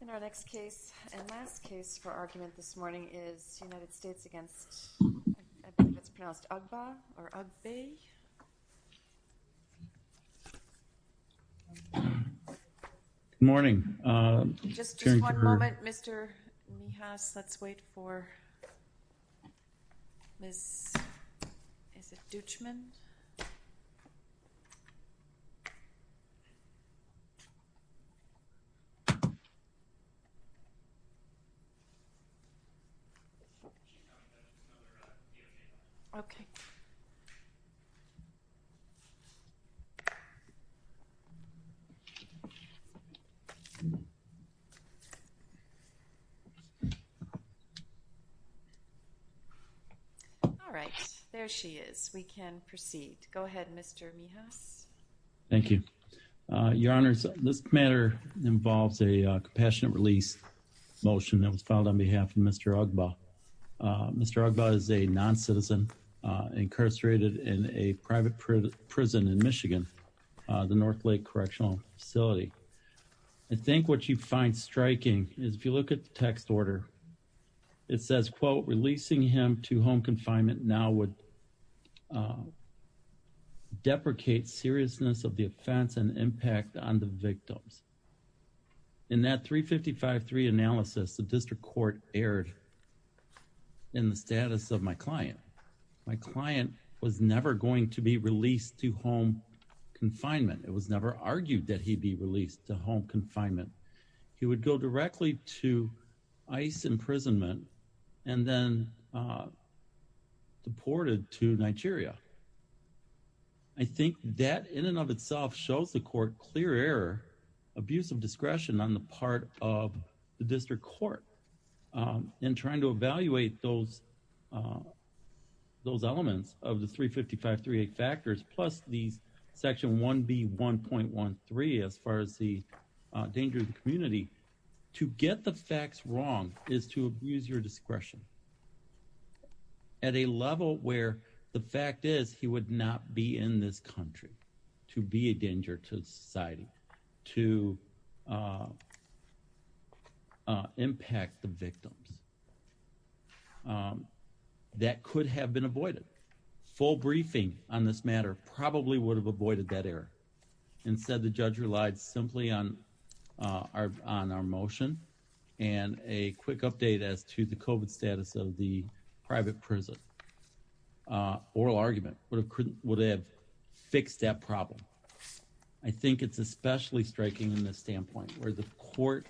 In our next case and last case for argument this morning is United States against, I believe it's pronounced Ugbah or Ugbay. Good morning. Just one moment, Mr. Mijas. Let's wait for Ms. Dutchman. Okay. All right. There she is. We can proceed. Go ahead, Mr. Mijas. Thank you. Your Honor, this matter involves a compassionate release motion that was filed on behalf of Mr. Ugbah. Mr. Ugbah is a non-citizen incarcerated in a private prison in Michigan, the North Lake Correctional Facility. I think what you find striking is if you look at the text order, it says, quote, releasing him to home confinement now would deprecate seriousness of the offense and impact on the victims. In that 355-3 analysis, the district court erred in the status of my client. My client was never going to be released to home confinement. It was never argued that he'd be released to home confinement. He would go directly to ICE imprisonment and then deported to Nigeria. I think that in and of itself shows the court clear error, abusive discretion on the part of the district court. In trying to evaluate those elements of the 355-3 factors, plus these Section 1B 1.13 as far as the danger to the community, to get the facts wrong is to abuse your discretion. At a level where the fact is he would not be in this country to be a danger to society, to impact the victims. That could have been avoided. Full briefing on this matter probably would have avoided that error. Instead, the judge relied simply on our motion and a quick update as to the COVID status of the private prison. Oral argument would have fixed that problem. I think it's especially striking in this standpoint, where the court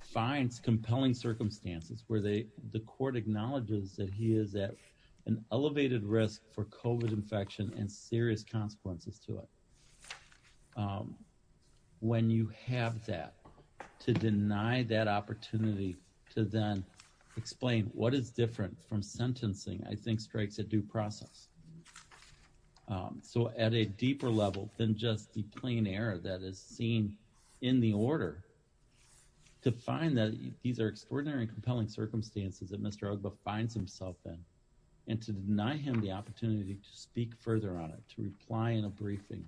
finds compelling circumstances, where the court acknowledges that he is at an elevated risk for COVID infection and serious consequences to it. When you have that, to deny that opportunity to then explain what is different from sentencing, I think strikes a due process. So at a deeper level than just the plain error that is seen in the order, to find that these are extraordinary and compelling circumstances that Mr. Ogba finds himself in, and to deny him the opportunity to speak further on it, to reply in a briefing,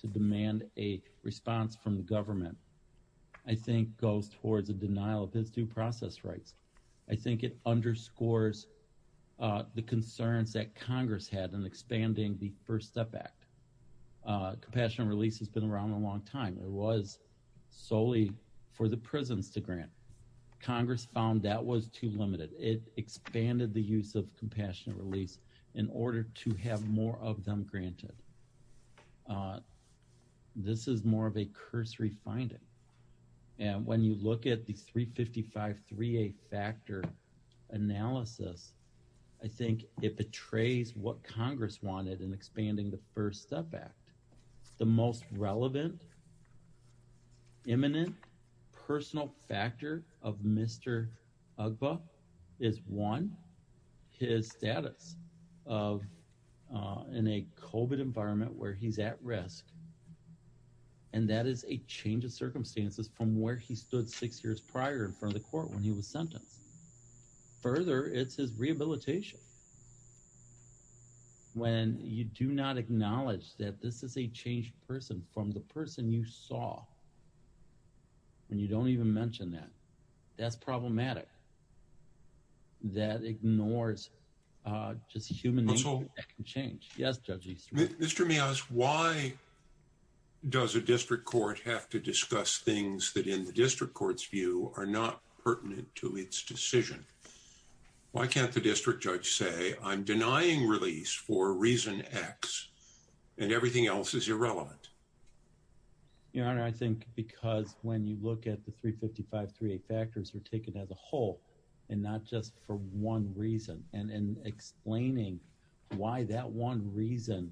to demand a response from the government, I think goes towards a denial of his due process rights. I think it underscores the concerns that Congress had in expanding the First Step Act. Compassionate release has been around a long time. It was solely for the prisons to grant. Congress found that was too limited. It expanded the use of compassionate release in order to have more of them granted. This is more of a cursory finding. And when you look at the 355-3A factor analysis, I think it betrays what Congress wanted in expanding the First Step Act. The most relevant, imminent, personal factor of Mr. Ogba is, one, his status in a COVID environment where he's at risk. And that is a change of circumstances from where he stood six years prior in front of the court when he was sentenced. Further, it's his rehabilitation. When you do not acknowledge that this is a changed person from the person you saw, and you don't even mention that, that's problematic. That ignores just human nature that can change. Mr. Mias, why does a district court have to discuss things that in the district court's view are not pertinent to its decision? Why can't the district judge say, I'm denying release for reason X and everything else is irrelevant? Your Honor, I think because when you look at the 355-3A factors, they're taken as a whole and not just for one reason. And in explaining why that one reason...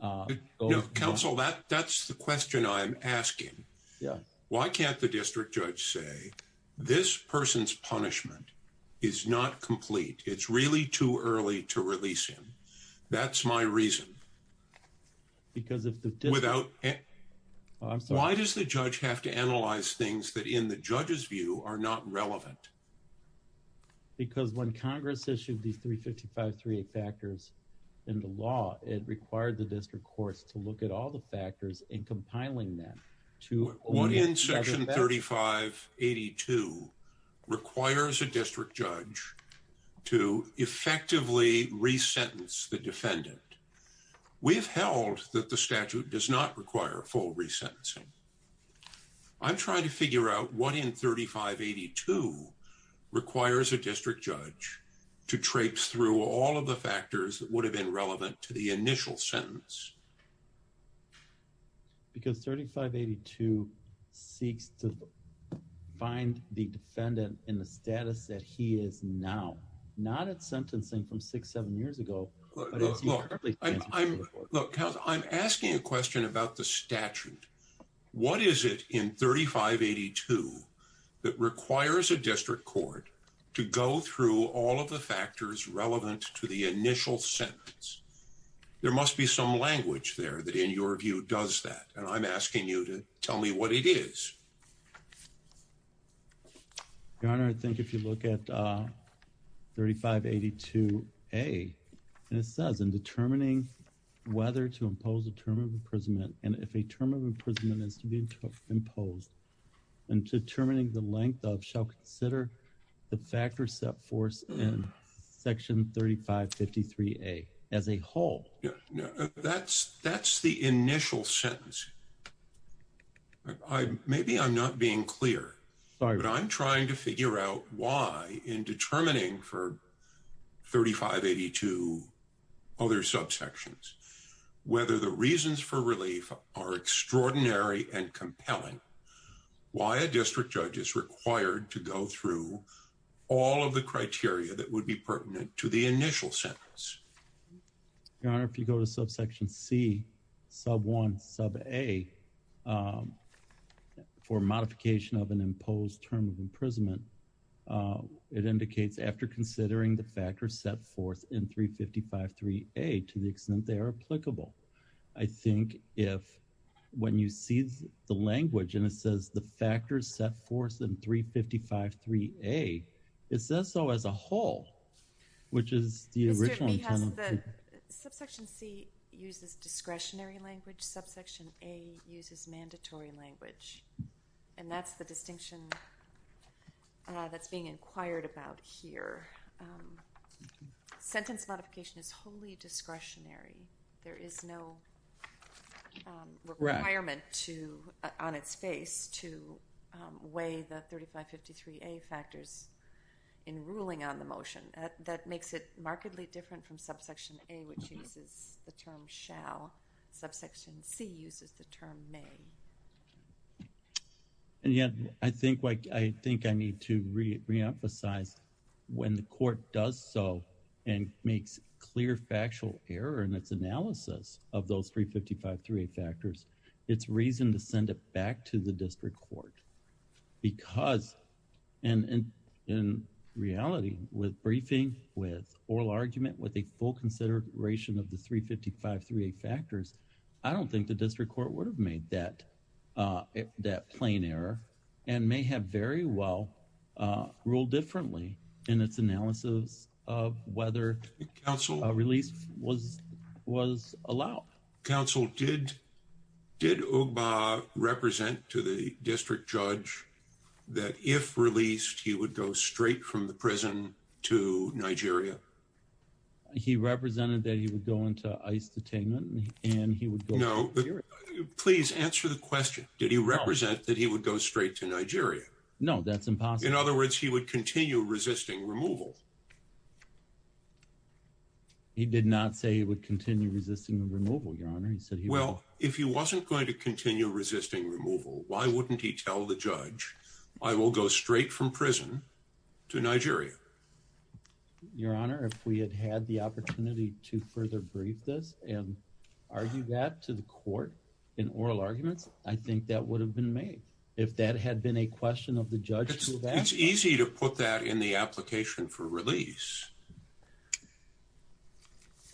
No, counsel, that's the question I'm asking. Yeah. Why can't the district judge say, this person's punishment is not complete? It's really too early to release him. That's my reason. Because if the district... Because when Congress issued these 355-3A factors in the law, it required the district courts to look at all the factors and compiling them to... What in section 3582 requires a district judge to effectively re-sentence the defendant? We've held that the statute does not require full re-sentencing. I'm trying to figure out what in 3582 requires a district judge to traipse through all of the factors that would have been relevant to the initial sentence. Because 3582 seeks to find the defendant in the status that he is now. Not at sentencing from six, seven years ago. Look, counsel, I'm asking a question about the statute. What is it in 3582 that requires a district court to go through all of the factors relevant to the initial sentence? There must be some language there that, in your view, does that. And I'm asking you to tell me what it is. Your Honor, I think if you look at 3582-A, it says, in determining whether to impose a term of imprisonment, and if a term of imprisonment is to be imposed, in determining the length of shall consider the factors set forth in section 3553-A as a whole. That's the initial sentence. Maybe I'm not being clear, but I'm trying to figure out why, in determining for 3582, other subsections, whether the reasons for relief are extraordinary and compelling, why a district judge is required to go through all of the criteria that would be pertinent to the initial sentence. Your Honor, if you go to subsection C, sub 1, sub A, for modification of an imposed term of imprisonment, it indicates after considering the factors set forth in 3553-A to the extent they are applicable. I think if, when you see the language, and it says the factors set forth in 3553-A, it says so as a whole, which is the original term. Mr. Behas, subsection C uses discretionary language. Subsection A uses mandatory language, and that's the distinction that's being inquired about here. Sentence modification is wholly discretionary. There is no requirement on its face to weigh the 3553-A factors in ruling on the motion. That makes it markedly different from subsection A, which uses the term shall. Subsection C uses the term may. I think I need to reemphasize when the court does so and makes clear factual error in its analysis of those 3553-A factors, it's reason to send it back to the district court because, and in reality, with briefing, with oral argument, with a full consideration of the 3553-A factors, I don't think the district court would have made that plain error and may have very well ruled differently in its analysis of whether a release was allowed. Counsel, did Ogba represent to the district judge that if released, he would go straight from the prison to Nigeria? He represented that he would go into ICE detainment and he would go to Nigeria. Please answer the question. Did he represent that he would go straight to Nigeria? No, that's impossible. In other words, he would continue resisting removal. He did not say he would continue resisting removal, Your Honor. Well, if he wasn't going to continue resisting removal, why wouldn't he tell the judge, I will go straight from prison to Nigeria? Your Honor, if we had had the opportunity to further brief this and argue that to the district judge, that would have been made if that had been a question of the judge. It's easy to put that in the application for release.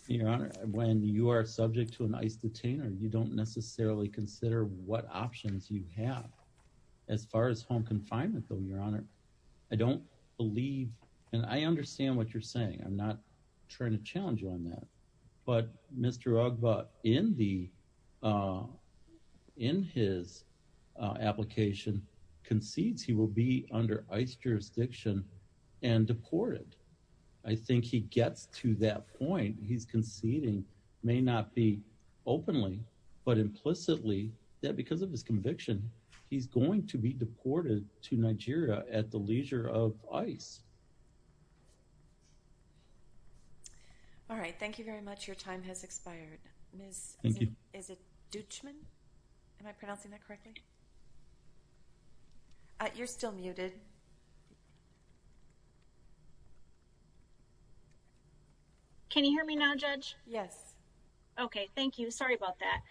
Your Honor, when you are subject to an ICE detainer, you don't necessarily consider what options you have. As far as home confinement, though, Your Honor, I don't believe, and I understand what you're saying. I'm not trying to challenge you on that, but Mr. Ogba, in his application, concedes he will be under ICE jurisdiction and deported. I think he gets to that point. He's conceding, may not be openly, but implicitly, that because of his conviction, he's going to be deported to Nigeria at the leisure of ICE. All right. Thank you very much. Your time has expired. Is it Duchman? Am I pronouncing that correctly? You're still muted. Can you hear me now, Judge? Yes. Okay, thank you. Sorry about that.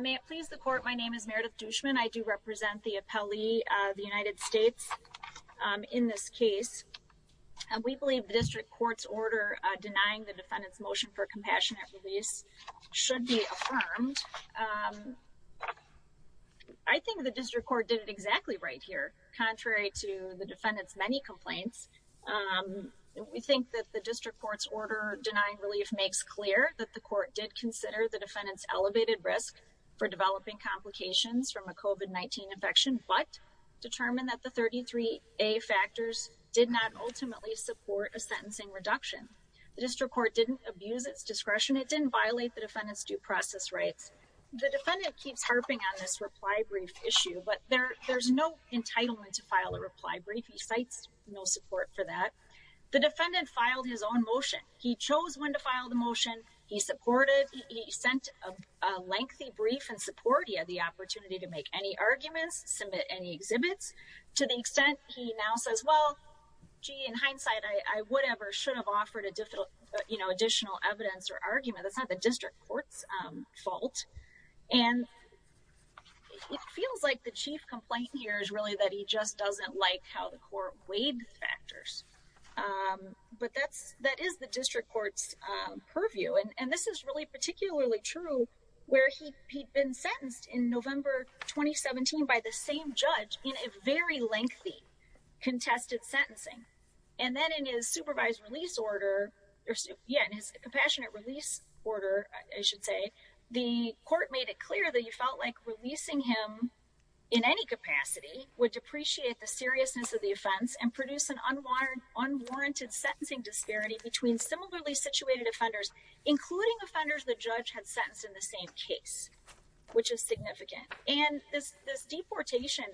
May it please the Court, my name is Meredith Duchman. I do represent the appellee of the United States in this case. We believe the district court's order denying the defendant's motion for compassionate release should be affirmed. I think the district court did it exactly right here. Contrary to the defendant's many complaints, we think that the district court's order denying relief makes clear that the court did consider the defendant's elevated risk for developing complications from a COVID-19 infection, but determined that the 33A factors did not ultimately support a sentencing reduction. The district court didn't abuse its discretion. It didn't violate the defendant's due process rights. The defendant keeps harping on this reply brief issue, but there's no entitlement to file a reply brief. He cites no support for that. The defendant filed his own motion. He chose when to file the motion. He supported, he sent a lengthy brief in support. He had the opportunity to make any arguments, submit any exhibits. To the extent he now says, well, gee, in hindsight, I would ever should have offered additional evidence or argument. That's not the district court's fault. And it feels like the chief complaint here is really that he just doesn't like how the court weighed factors. But that is the district court's purview. And this is really particularly true where he'd been sentenced in November 2017 by the same judge in a very lengthy contested sentencing. And then in his supervised release order, yeah, in his compassionate release order, I should say, the court made it clear that he felt like releasing him in any capacity would depreciate the seriousness of the offense and produce an unwarranted sentencing disparity between similarly situated offenders, including offenders the judge had sentenced in the same case, which is significant. And this deportation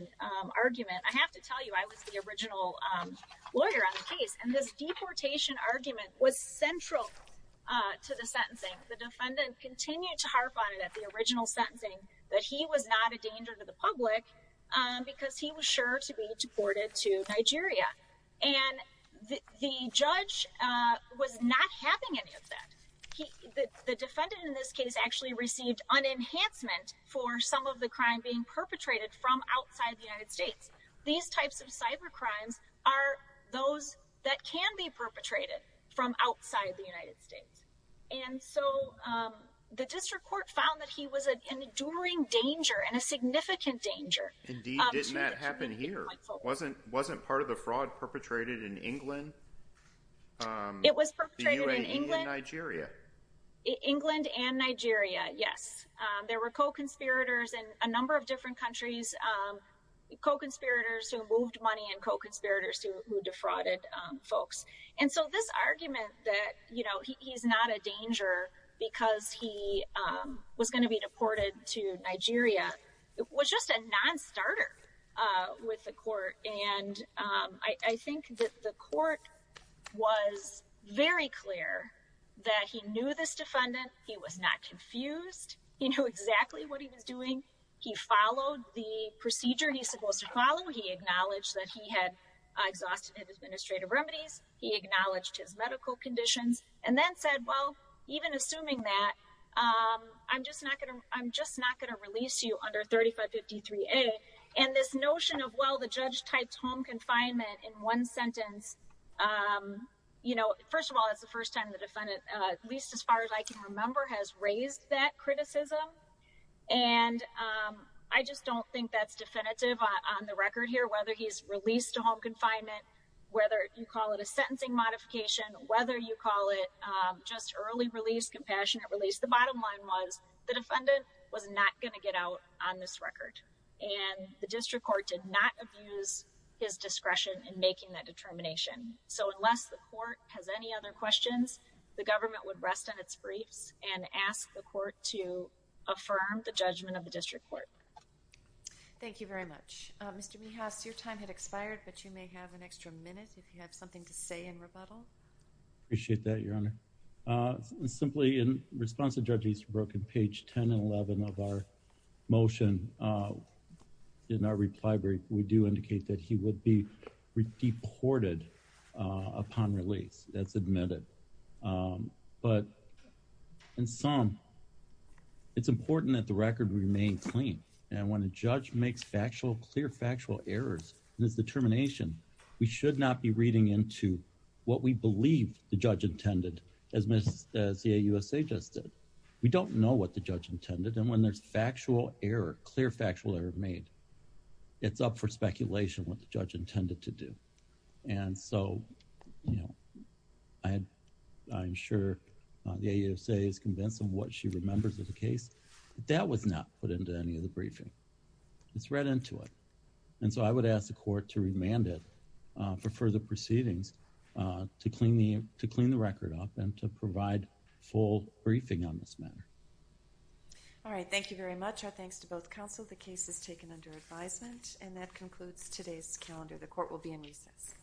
argument, I have to tell you, I was the original lawyer on the case. And this deportation argument was central to the sentencing. The defendant continued to harp on it at the original sentencing that he was not a danger to the public because he was sure to be deported to Nigeria. And the judge was not having any of that. The defendant in this case actually received an enhancement for some of the crime being perpetrated from outside the United States. These types of cyber crimes are those that can be perpetrated from outside the United States. And so the district court found that he was an enduring danger and a significant danger. Indeed, didn't that happen here? Wasn't part of the fraud perpetrated in England? It was perpetrated in England. The UAE and Nigeria. England and Nigeria, yes. There were co-conspirators in a number of different countries, co-conspirators who moved money and co-conspirators who defrauded folks. And so this argument that, you know, he's not a danger because he was going to be deported to Nigeria was just a non-starter with the court. And I think that the court was very clear that he knew this defendant. He was not confused. He knew exactly what he was doing. He followed the procedure he's supposed to follow. He acknowledged that he had exhausted administrative remedies. He acknowledged his medical conditions. And then said, well, even assuming that, I'm just not going to release you under 3553A. And this notion of, well, the judge types home confinement in one sentence, you know, first of all, that's the first time the defendant, at least as far as I can remember, has raised that criticism. And I just don't think that's definitive on the record here, whether he's released to home confinement, whether you call it a sentencing modification, whether you call it just early release, compassionate release, the bottom line was the defendant was not going to get out on this record. And the district court did not abuse his discretion in making that determination. So unless the court has any other questions, the government would rest on its briefs and ask the court to affirm the judgment of the district court. Thank you very much. Mr. Mihas, your time had expired, but you may have an extra minute if you have something to say in rebuttal. I appreciate that, Your Honor. Simply in response to Judge Easterbrook, in page 10 and 11 of our motion, in our reply brief, we do indicate that he would be deported upon release. That's admitted. But in sum, it's important that the record remain clean. And when a judge makes factual, clear, factual errors in his determination, we should not be reading into what we believe the judge intended, as Ms. CAUSA just did. We don't know what the judge intended. And when there's factual error, clear, factual error made, it's up for speculation what the judge intended to do. And so I'm sure the AUSA is convinced of what she remembers of the case, but that was not put into any of the briefing. It's read into it. And so I would ask the court to remand it for further proceedings to clean the record up and to provide full briefing on this matter. All right. Thank you very much. Our thanks to both counsel. The case is taken under advisement, and that concludes today's calendar. The court will be in recess.